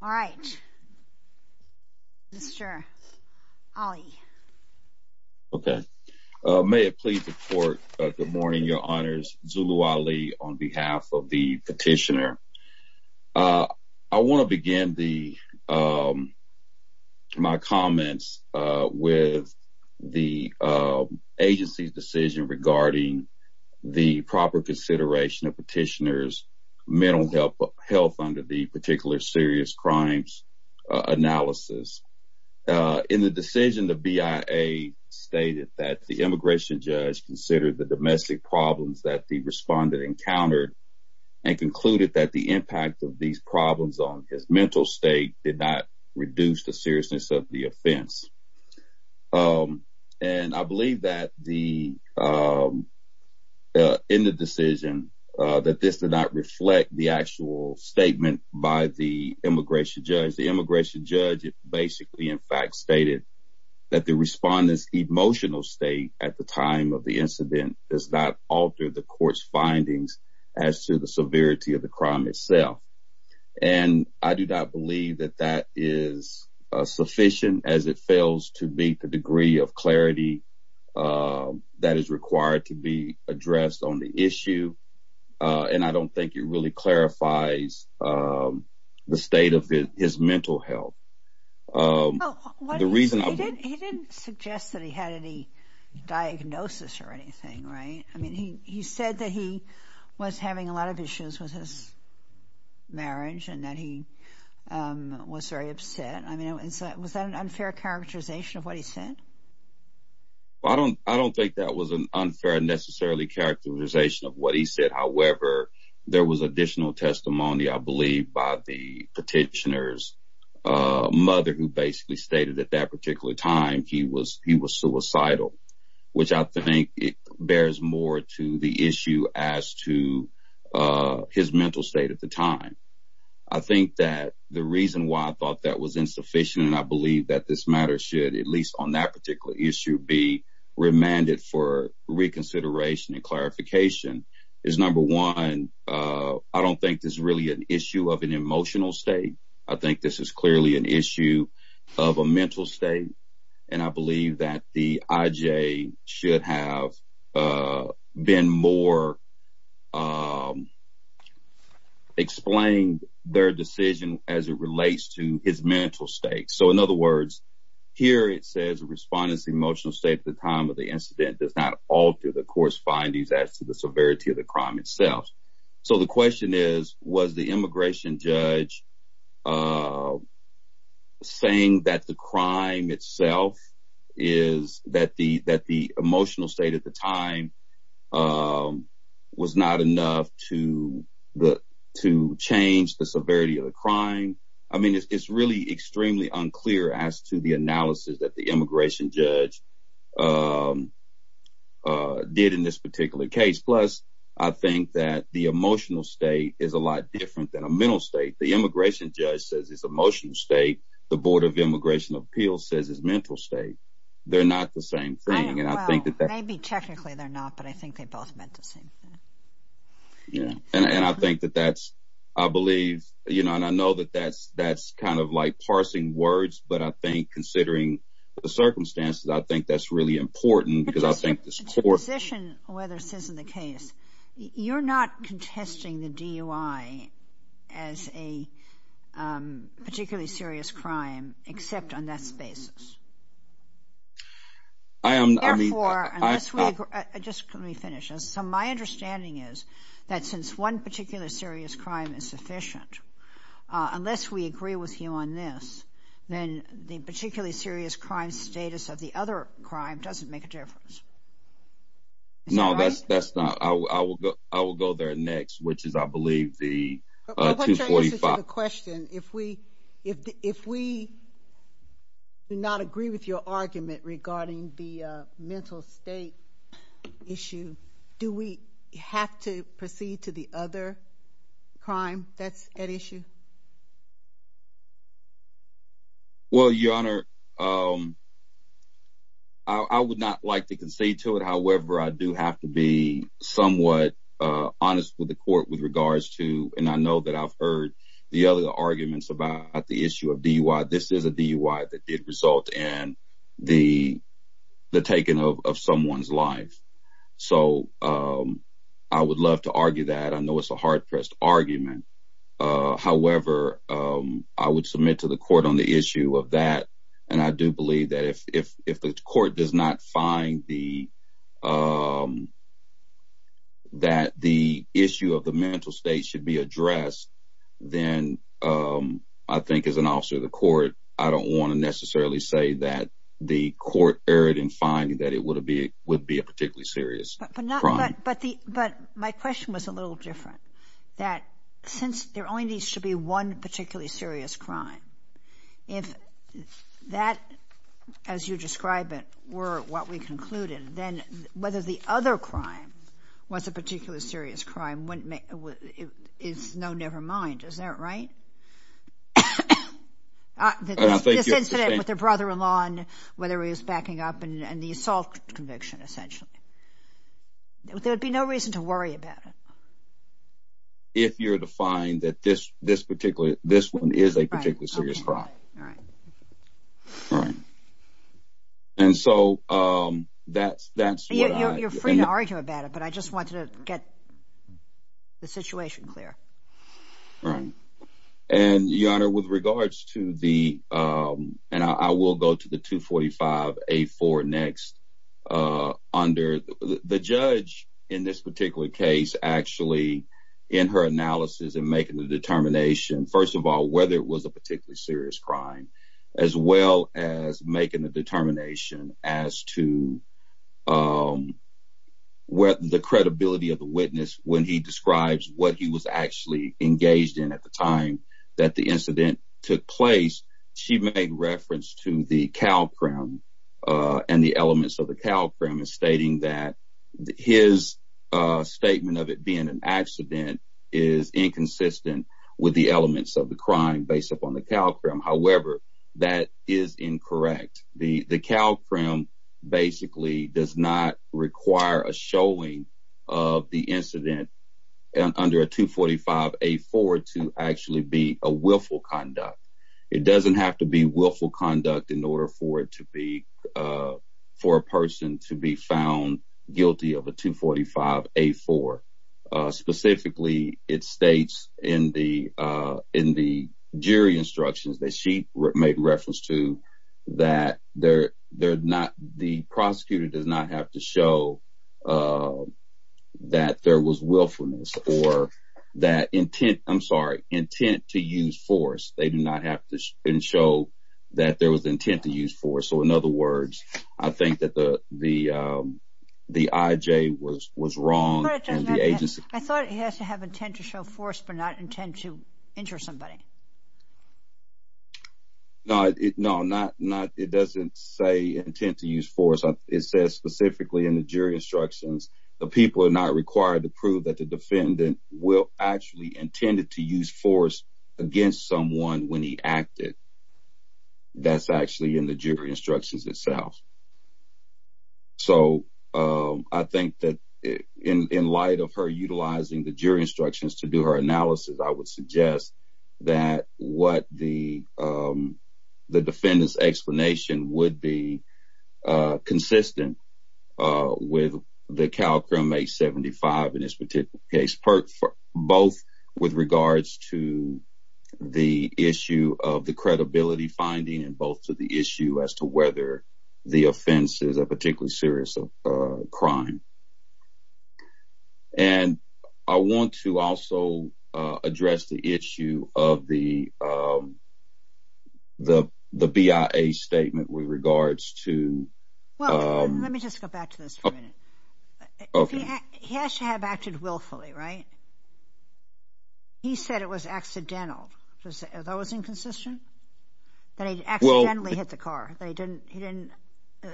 All right, Mr. Ali. Okay, may it please the court. Good morning, your honors. Zulu Ali on behalf of the petitioner. I want to begin my comments with the agency's decision regarding the proper consideration of petitioners' mental health under the particular serious crimes analysis. In the decision, the BIA stated that the immigration judge considered the domestic problems that the respondent encountered and concluded that the impact of these problems on his mental state did not reduce the seriousness of the offense. And I believe that in the decision, that this did not reflect the actual statement by the immigration judge. The immigration judge basically, in fact, stated that the respondent's emotional state at the time of the incident does not alter the court's findings as to the severity of the crime itself. And I do not believe that that is sufficient, as it fails to meet the degree of clarity that is required to be addressed on the issue. And I don't think it really clarifies the state of his mental health. The reason he didn't suggest that he had any diagnosis or anything, right? I mean, he said that he was having a lot of issues with his marriage and that he was very upset. I mean, was that an unfair characterization of what he said? I don't think that was an unfair necessarily characterization of what he said. However, there was additional testimony, I believe, by the petitioner's mother, who basically stated at that particular time he was suicidal, which I think bears more to the issue as to his mental state at the time. I think that the reason why I thought that was insufficient, and I believe that this matter should, at least on that particular issue, be remanded for reconsideration and clarification, is number one, I don't think this is really an issue of an emotional state. I think this is clearly an issue of a mental state. And I believe that the IJ should have been more explained their decision as it relates to his mental state. So in other words, here it says the respondent's emotional state at the time of the incident does not alter the court's findings as to the severity of the crime emotional state at the time was not enough to change the severity of the crime. I mean, it's really extremely unclear as to the analysis that the immigration judge did in this particular case. Plus, I think that the emotional state is a lot different than a mental state. The immigration judge says it's emotional state. The Board of Immigration Appeals says it's mental state. They're not the same thing. Maybe technically they're not, but I think they both meant the same thing. Yeah, and I think that that's, I believe, you know, and I know that that's kind of like parsing words, but I think considering the circumstances, I think that's really important because I think the court... To position whether this is the case, you're not contesting the DUI as a particularly serious crime, except on that basis. I am, I mean... Therefore, just let me finish. So my understanding is that since one particular serious crime is sufficient, unless we agree with you on this, then the particularly serious crime status of the other crime doesn't make a question. If we do not agree with your argument regarding the mental state issue, do we have to proceed to the other crime that's at issue? Well, Your Honor, I would not like to concede to it. However, I do have to be somewhat honest with the court with regards to, and I know that I've held arguments about the issue of DUI. This is a DUI that did result in the taking of someone's life. So I would love to argue that. I know it's a hard-pressed argument. However, I would submit to the court on the issue of that, and I do believe that if the court does not find that the issue of the mental state should be addressed, then I think as an officer of the court, I don't want to necessarily say that the court erred in finding that it would be a particularly serious crime. But my question was a little different. That since there only needs to be one particularly serious crime, if that, as you describe it, were what we know, never mind, is that right? This incident with the brother-in-law and whether he was backing up and the assault conviction, essentially. There would be no reason to worry about it. If you're to find that this one is a particularly serious crime. Right. And so that's what I... You're free to argue about it, but I just wanted to get the situation clear. Right. And Your Honor, with regards to the, and I will go to the 245A4 next under the judge in this particular case, actually in her analysis and making the with the credibility of the witness when he describes what he was actually engaged in at the time that the incident took place, she made reference to the CalCrim and the elements of the CalCrim stating that his statement of it being an accident is inconsistent with the elements of the crime based upon the CalCrim. However, that is incorrect. The CalCrim basically does not require a showing of the incident under a 245A4 to actually be a willful conduct. It doesn't have to be willful conduct in order for it to be, for a person to be found guilty of a 245A4. Specifically, it states in the jury instructions that she made reference to that the prosecutor does not have to show that there was willfulness or that intent, I'm sorry, intent to use force. They do not have to show that there was intent to use force. So, in other words, I think that the IJ was wrong and the agency. I thought he has to have intent to show force, but not intent to injure somebody. No, no, not, not, it doesn't say intent to use force. It says specifically in the jury instructions, the people are not required to prove that the defendant will actually intended to use force against someone when he acted. That's actually in the jury instructions itself. So I think that in light of her utilizing the jury instructions to do her analysis, I would suggest that what the the defendant's explanation would be consistent with the CalCrim 875 in this particular case. Both with regards to the issue of the credibility finding and both to the issue as to whether the offense is a particularly serious crime. And I want to also address the issue of the the the BIA statement with regards to. Well, let me just go back to this for a minute. He has to have acted willfully, right? He said it was accidental. That was inconsistent that he accidentally hit the car. They didn't. He didn't.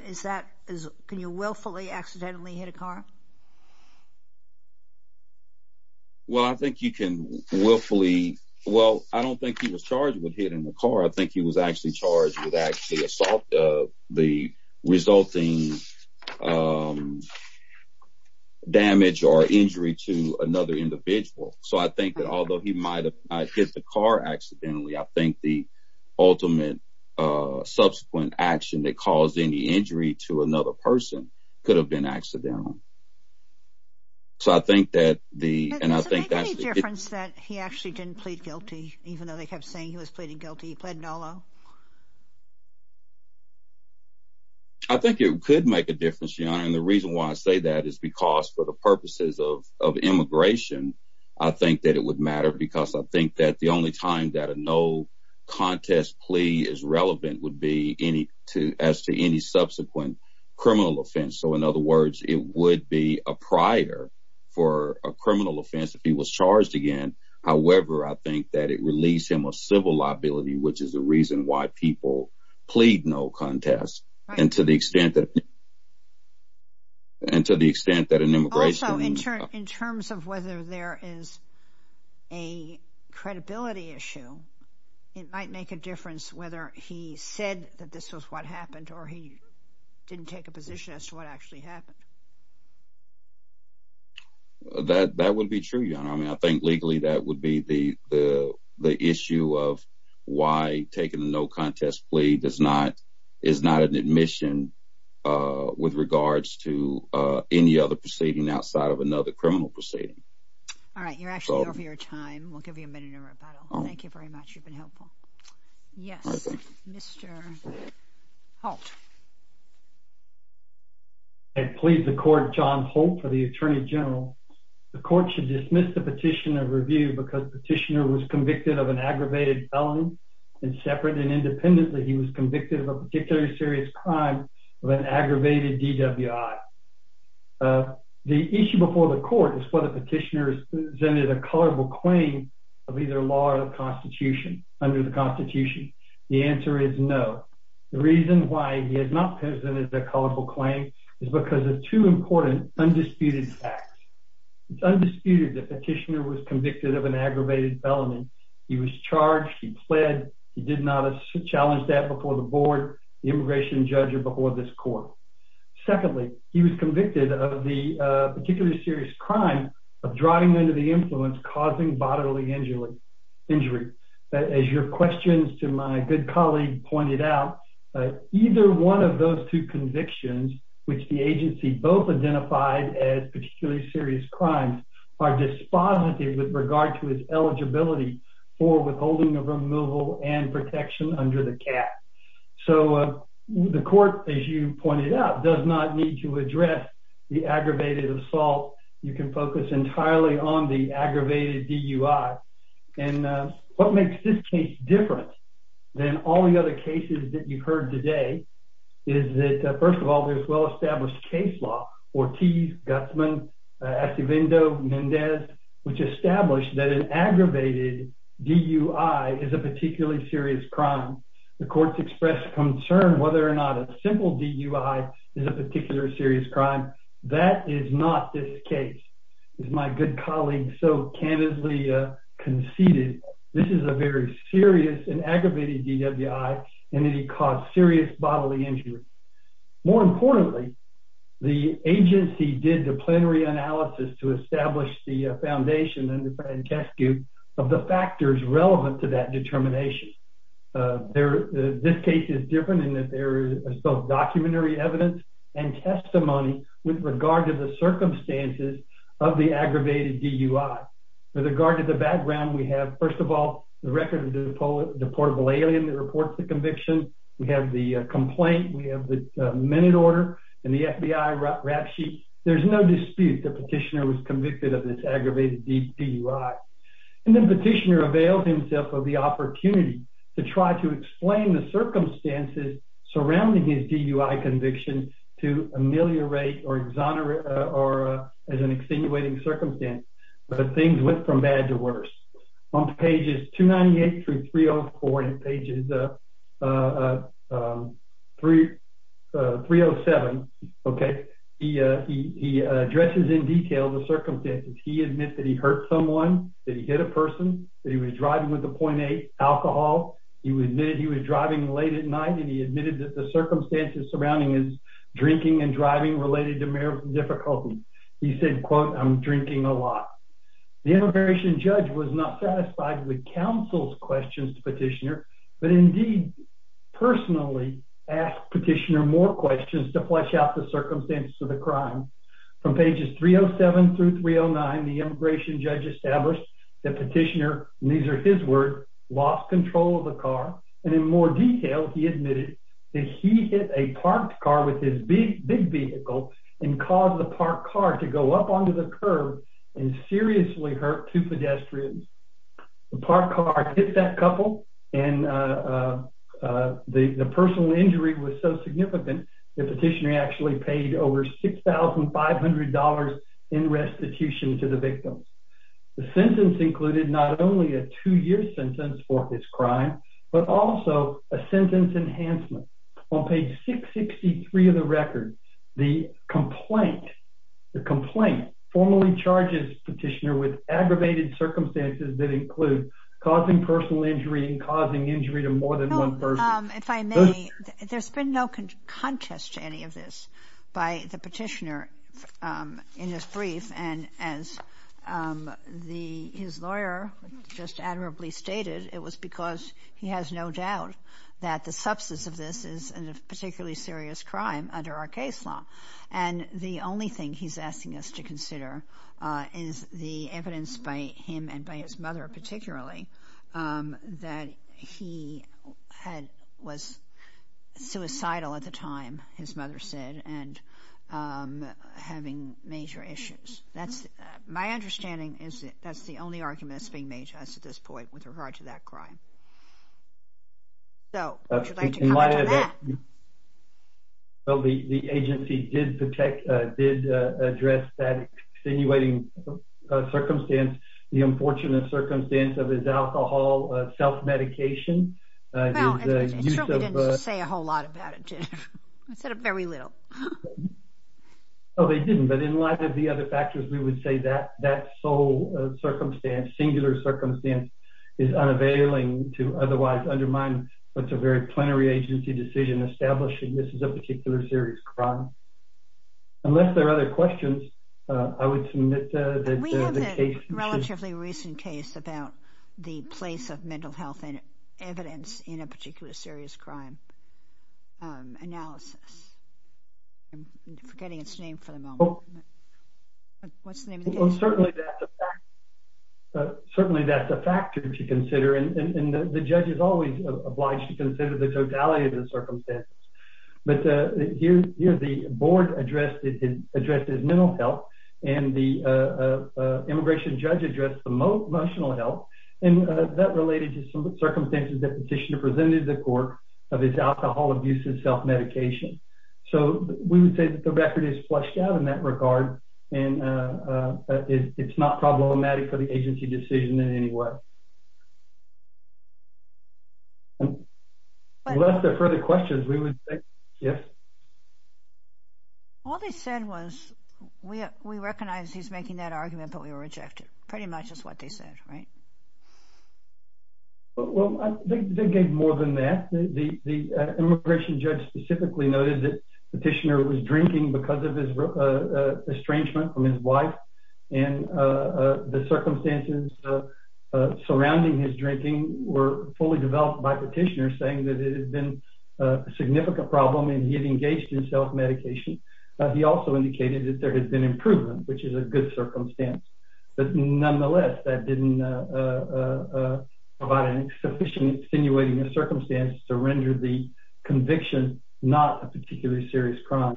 Is that is can you willfully accidentally hit a car? Well, I think you can willfully. Well, I don't think he was charged with hitting the car. I think he was actually charged with actually assault the resulting damage or injury to another individual. So I think that although he might have hit the car accidentally, I think the ultimate subsequent action that caused any injury to another person could have been accidental. So I think that the and I think that's the difference that he actually didn't plead guilty, even though they kept saying he was pleading guilty. He pled nolo. I think it could make a difference, Your Honor, and the reason why I say that is because for the purposes of immigration, I think that it would matter because I think that the only time that a no contest plea is relevant would be any to as to any subsequent criminal offense. So, in other words, it would be a prior for a criminal offense if he was charged again. However, I think that it released him a civil liability, which is the reason why people plead no contest. And to the extent that. And to the extent that an immigration in terms of whether there is a credibility issue, it might make a difference whether he said that this was what happened or he didn't take a position as to what actually happened. That that would be true, Your Honor, I mean, I think legally that would be the the the issue of why taking a no contest plea does not is not an admission with regards to any other proceeding outside of another criminal proceeding. All right, you're actually over your time. We'll give you a minute in rebuttal. Thank you very much. Yes, Mr. Halt. I plead the court John Holt for the Attorney General. The court should dismiss the petition of review because petitioner was convicted of an aggravated felony and separate and independently. He was convicted of a particularly serious crime of an aggravated DWI. The issue before the court is whether petitioners presented a colorable claim of either law or the Constitution under the Constitution. The answer is no. The reason why he has not presented a colorful claim is because of two important undisputed facts. It's undisputed that petitioner was convicted of an aggravated felony. He was charged, he pled, he did not challenge that before the board, the immigration judge, or before this court. Secondly, he was convicted of the particularly serious crime of driving under the influence causing bodily injury. As your questions to my good colleague pointed out, either one of those two convictions, which the agency both identified as particularly serious crimes, are dispositive with regard to his eligibility for withholding of removal and protection under the cap. So the court, as you pointed out, does not need to address the aggravated assault. You can focus entirely on the aggravated DUI. And what makes this case different than all the other cases that you've heard today is that, first of all, there's well-established case law, Ortiz, Gutsman, Acevedo, Mendez, which established that an aggravated DUI is a particularly serious crime. The court's expressed concern whether or not a simple DUI is a particular serious crime. That is not this case, as my good colleague so candidly conceded. This is a very serious and aggravated DUI, and it caused serious bodily injury. More importantly, the agency did the plenary analysis to establish the foundation and test group of the factors relevant to that determination. This case is different in that there is both documentary evidence and testimony with regard to the circumstances of the aggravated DUI. With regard to the background, we have, first of all, the record of the deportable alien that reports the conviction. We have the complaint. We have the minute order and the FBI rap sheet. There's no dispute the petitioner was convicted of this aggravated DUI. And the petitioner availed himself of the opportunity to try to explain the circumstances surrounding his DUI conviction to ameliorate or exonerate or as an extenuating circumstance. But things went from bad to worse. On pages 298 through 304 and pages 307, okay, he addresses in detail the circumstances. He admits that he hurt someone, that he hit a person, that he was driving with a .8 alcohol. He admitted he was driving late at night, and he admitted that the circumstances surrounding his drinking and driving related to marital difficulty. He said, quote, I'm drinking a lot. The immigration judge was not satisfied with counsel's questions to petitioner, but indeed, personally, asked petitioner more questions to flesh out the circumstances of the crime. From pages 307 through 309, the immigration judge established that petitioner, and these are his words, lost control of the car. And in more detail, he admitted that he hit a parked car with his big vehicle and caused the parked car to go up onto the curb and seriously hurt two pedestrians. The parked car hit that couple, and the personal injury was so significant, the petitioner actually paid over $6,500 in restitution to the victim. The sentence included not only a two-year sentence for this crime, but also a sentence enhancement. On page 663 of the record, the complaint, the complaint formally charges petitioner with aggravated circumstances that include causing personal injury and causing injury to more than one person. If I may, there's been no contest to any of this by the petitioner in his brief. And as his lawyer just admirably stated, it was because he has no doubt that the substance of this is a particularly serious crime under our case law. And the only thing he's asking us to consider is the evidence by him and by his mother, particularly, that he was suicidal at the time, his mother said, and having major issues. That's my understanding is that that's the only argument that's being made to us at this point with regard to that crime. So, would you like to comment on that? Well, the agency did protect, did address that extenuating circumstance, the unfortunate circumstance of his alcohol self-medication. Well, it certainly didn't say a whole lot about it, did it? It said very little. Oh, they didn't. But in light of the other factors, we would say that that sole circumstance, singular circumstance is unavailing to otherwise undermine what's a very plenary agency decision establishing this is a particular serious crime. Unless there are other questions, I would submit that the case... We have a relatively recent case about the place of mental health and evidence in a particular serious crime analysis. I'm forgetting its name for the moment. What's the name of the case? Certainly, that's a factor to consider. And the judge is always obliged to consider the totality of the circumstances. But here, the board addressed his mental health and the immigration judge addressed the emotional health. And that related to some circumstances that the petitioner presented to the court of his alcohol abuse and self-medication. So, we would say that the record is fleshed out in that regard and it's not problematic for the agency decision in any way. Unless there are further questions, we would say yes. All they said was, we recognize he's making that argument, but we reject it. Pretty much is what they said, right? Well, I think they gave more than that. The immigration judge specifically noted that the petitioner was drinking because of his estrangement from his wife. And the circumstances surrounding his drinking were fully developed by the petitioner saying that it had been a significant problem and he had engaged in self-medication. He also indicated that there had been improvement, which is a good circumstance. But nonetheless, that didn't provide a sufficient extenuating circumstance to render the conviction not a particularly serious crime.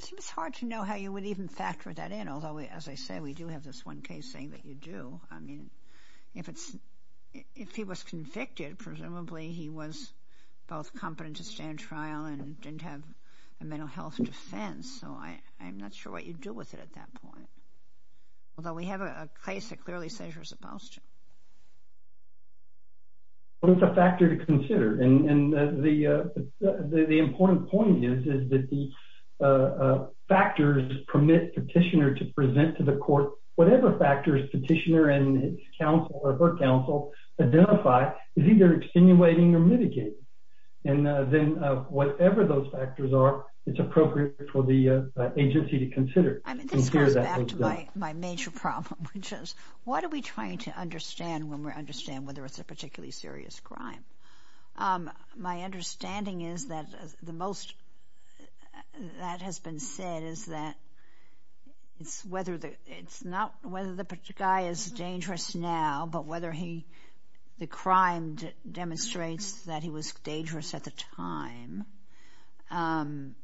Seems hard to know how you would even factor that in. Although, as I say, we do have this one case saying that you do. I mean, if he was convicted, presumably he was both competent to stand trial and didn't have a mental health defense. So I'm not sure what you'd do with it at that point. Although, we have a case that clearly says you're supposed to. Well, it's a factor to consider. And the important point is that the factors permit petitioner to present to the court whatever factors petitioner and his counsel or her counsel identify is either extenuating or mitigating. And then whatever those factors are, it's appropriate for the agency to consider. I mean, this goes back to my major problem, which is what are we trying to understand when we understand whether it's a particularly serious crime? My understanding is that the most that has been said is that it's not whether the guy is dangerous now, but whether the crime demonstrates that he was dangerous at the time. And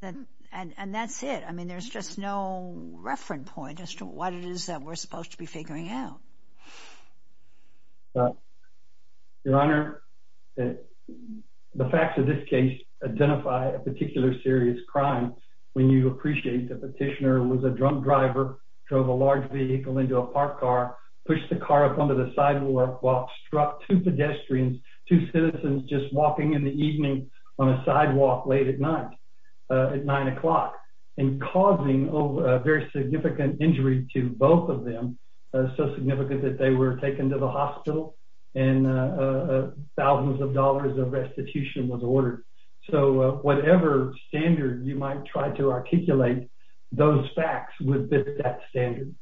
that's it. I mean, there's just no reference point as to what it is that we're supposed to be figuring out. Your Honor, the facts of this case identify a particular serious crime when you appreciate the petitioner was a drunk driver. Drove a large vehicle into a parked car, pushed the car up onto the sidewalk, while struck two pedestrians, two citizens just walking in the evening on a sidewalk late at night at nine o'clock. And causing a very significant injury to both of them, so significant that they were taken to the hospital and thousands of dollars of restitution was ordered. So whatever standard you might try to articulate, those facts would fit that standard.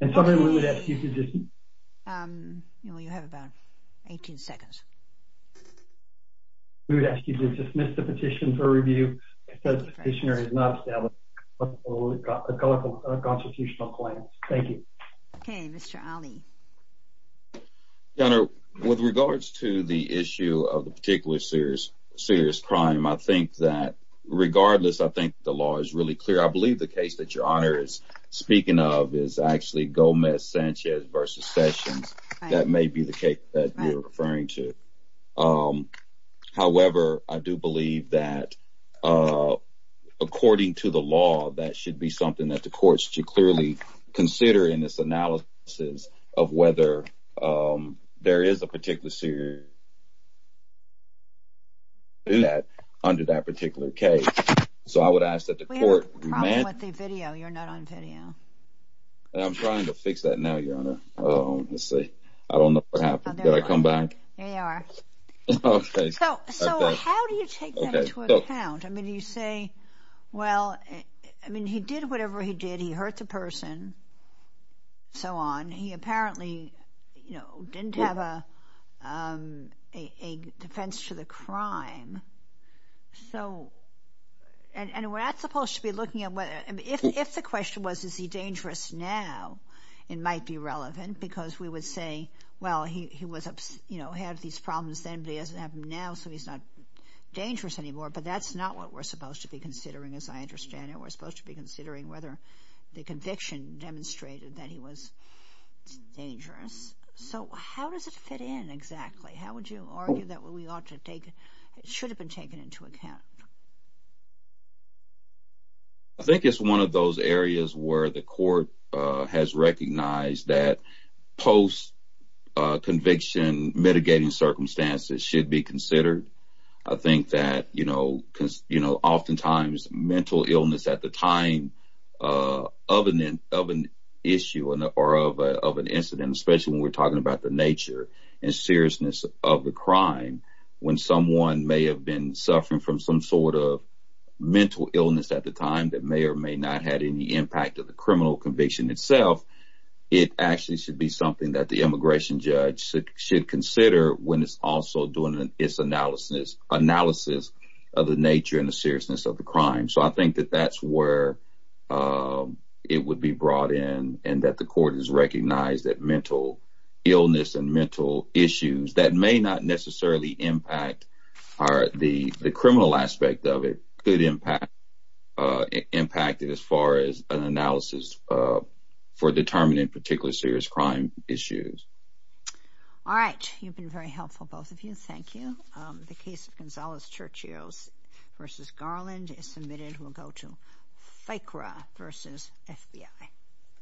And so we would ask you to just... You have about 18 seconds. We would ask you to dismiss the petition for review because the petitioner has not established a constitutional claim. Thank you. Okay, Mr. Ali. Your Honor, with regards to the issue of the particular serious crime, I think that regardless, I think the law is really clear. I believe the case that Your Honor is speaking of is actually Gomez-Sanchez v. Sessions. That may be the case that you're referring to. However, I do believe that according to the law, that should be something that the courts should clearly consider in this analysis of whether there is a particular serious crime under that particular case. So I would ask that the court... We have a problem with the video. You're not on video. I'm trying to fix that now, Your Honor. Let's see. I don't know what happened. Did I come back? There you are. So how do you take that into account? I mean, you say, well, I mean, he did whatever he did. He hurt the person, so on. He apparently, you know, didn't have a defense to the crime. So, and we're not supposed to be looking at whether, if the question was, is he dangerous now? It might be relevant because we would say, well, he was, you know, had these problems then, but he doesn't have them now, so he's not dangerous anymore. But that's not what we're supposed to be considering, as I understand it. We're supposed to be considering whether the conviction demonstrated that he was dangerous. So how does it fit in exactly? How would you argue that we ought to take, it should have been taken into account? I think it's one of those areas where the court has recognized that post-conviction mitigating circumstances should be considered. I think that, you know, because, you know, oftentimes mental illness at the time of an issue or of an incident, especially when we're talking about the nature and seriousness of the crime, when someone may have been suffering from some sort of mental illness. At the time that may or may not had any impact of the criminal conviction itself, it actually should be something that the immigration judge should consider when it's also doing its analysis, analysis of the nature and the seriousness of the crime. So I think that that's where it would be brought in and that the court has recognized that mental illness and mental issues that may not necessarily impact the criminal aspect of it could impact it as far as an analysis for determining particularly serious crime issues. All right. You've been very helpful, both of you. Thank you. The case of Gonzalez-Churchill v. Garland is submitted. We'll go to FICRA v. FBI.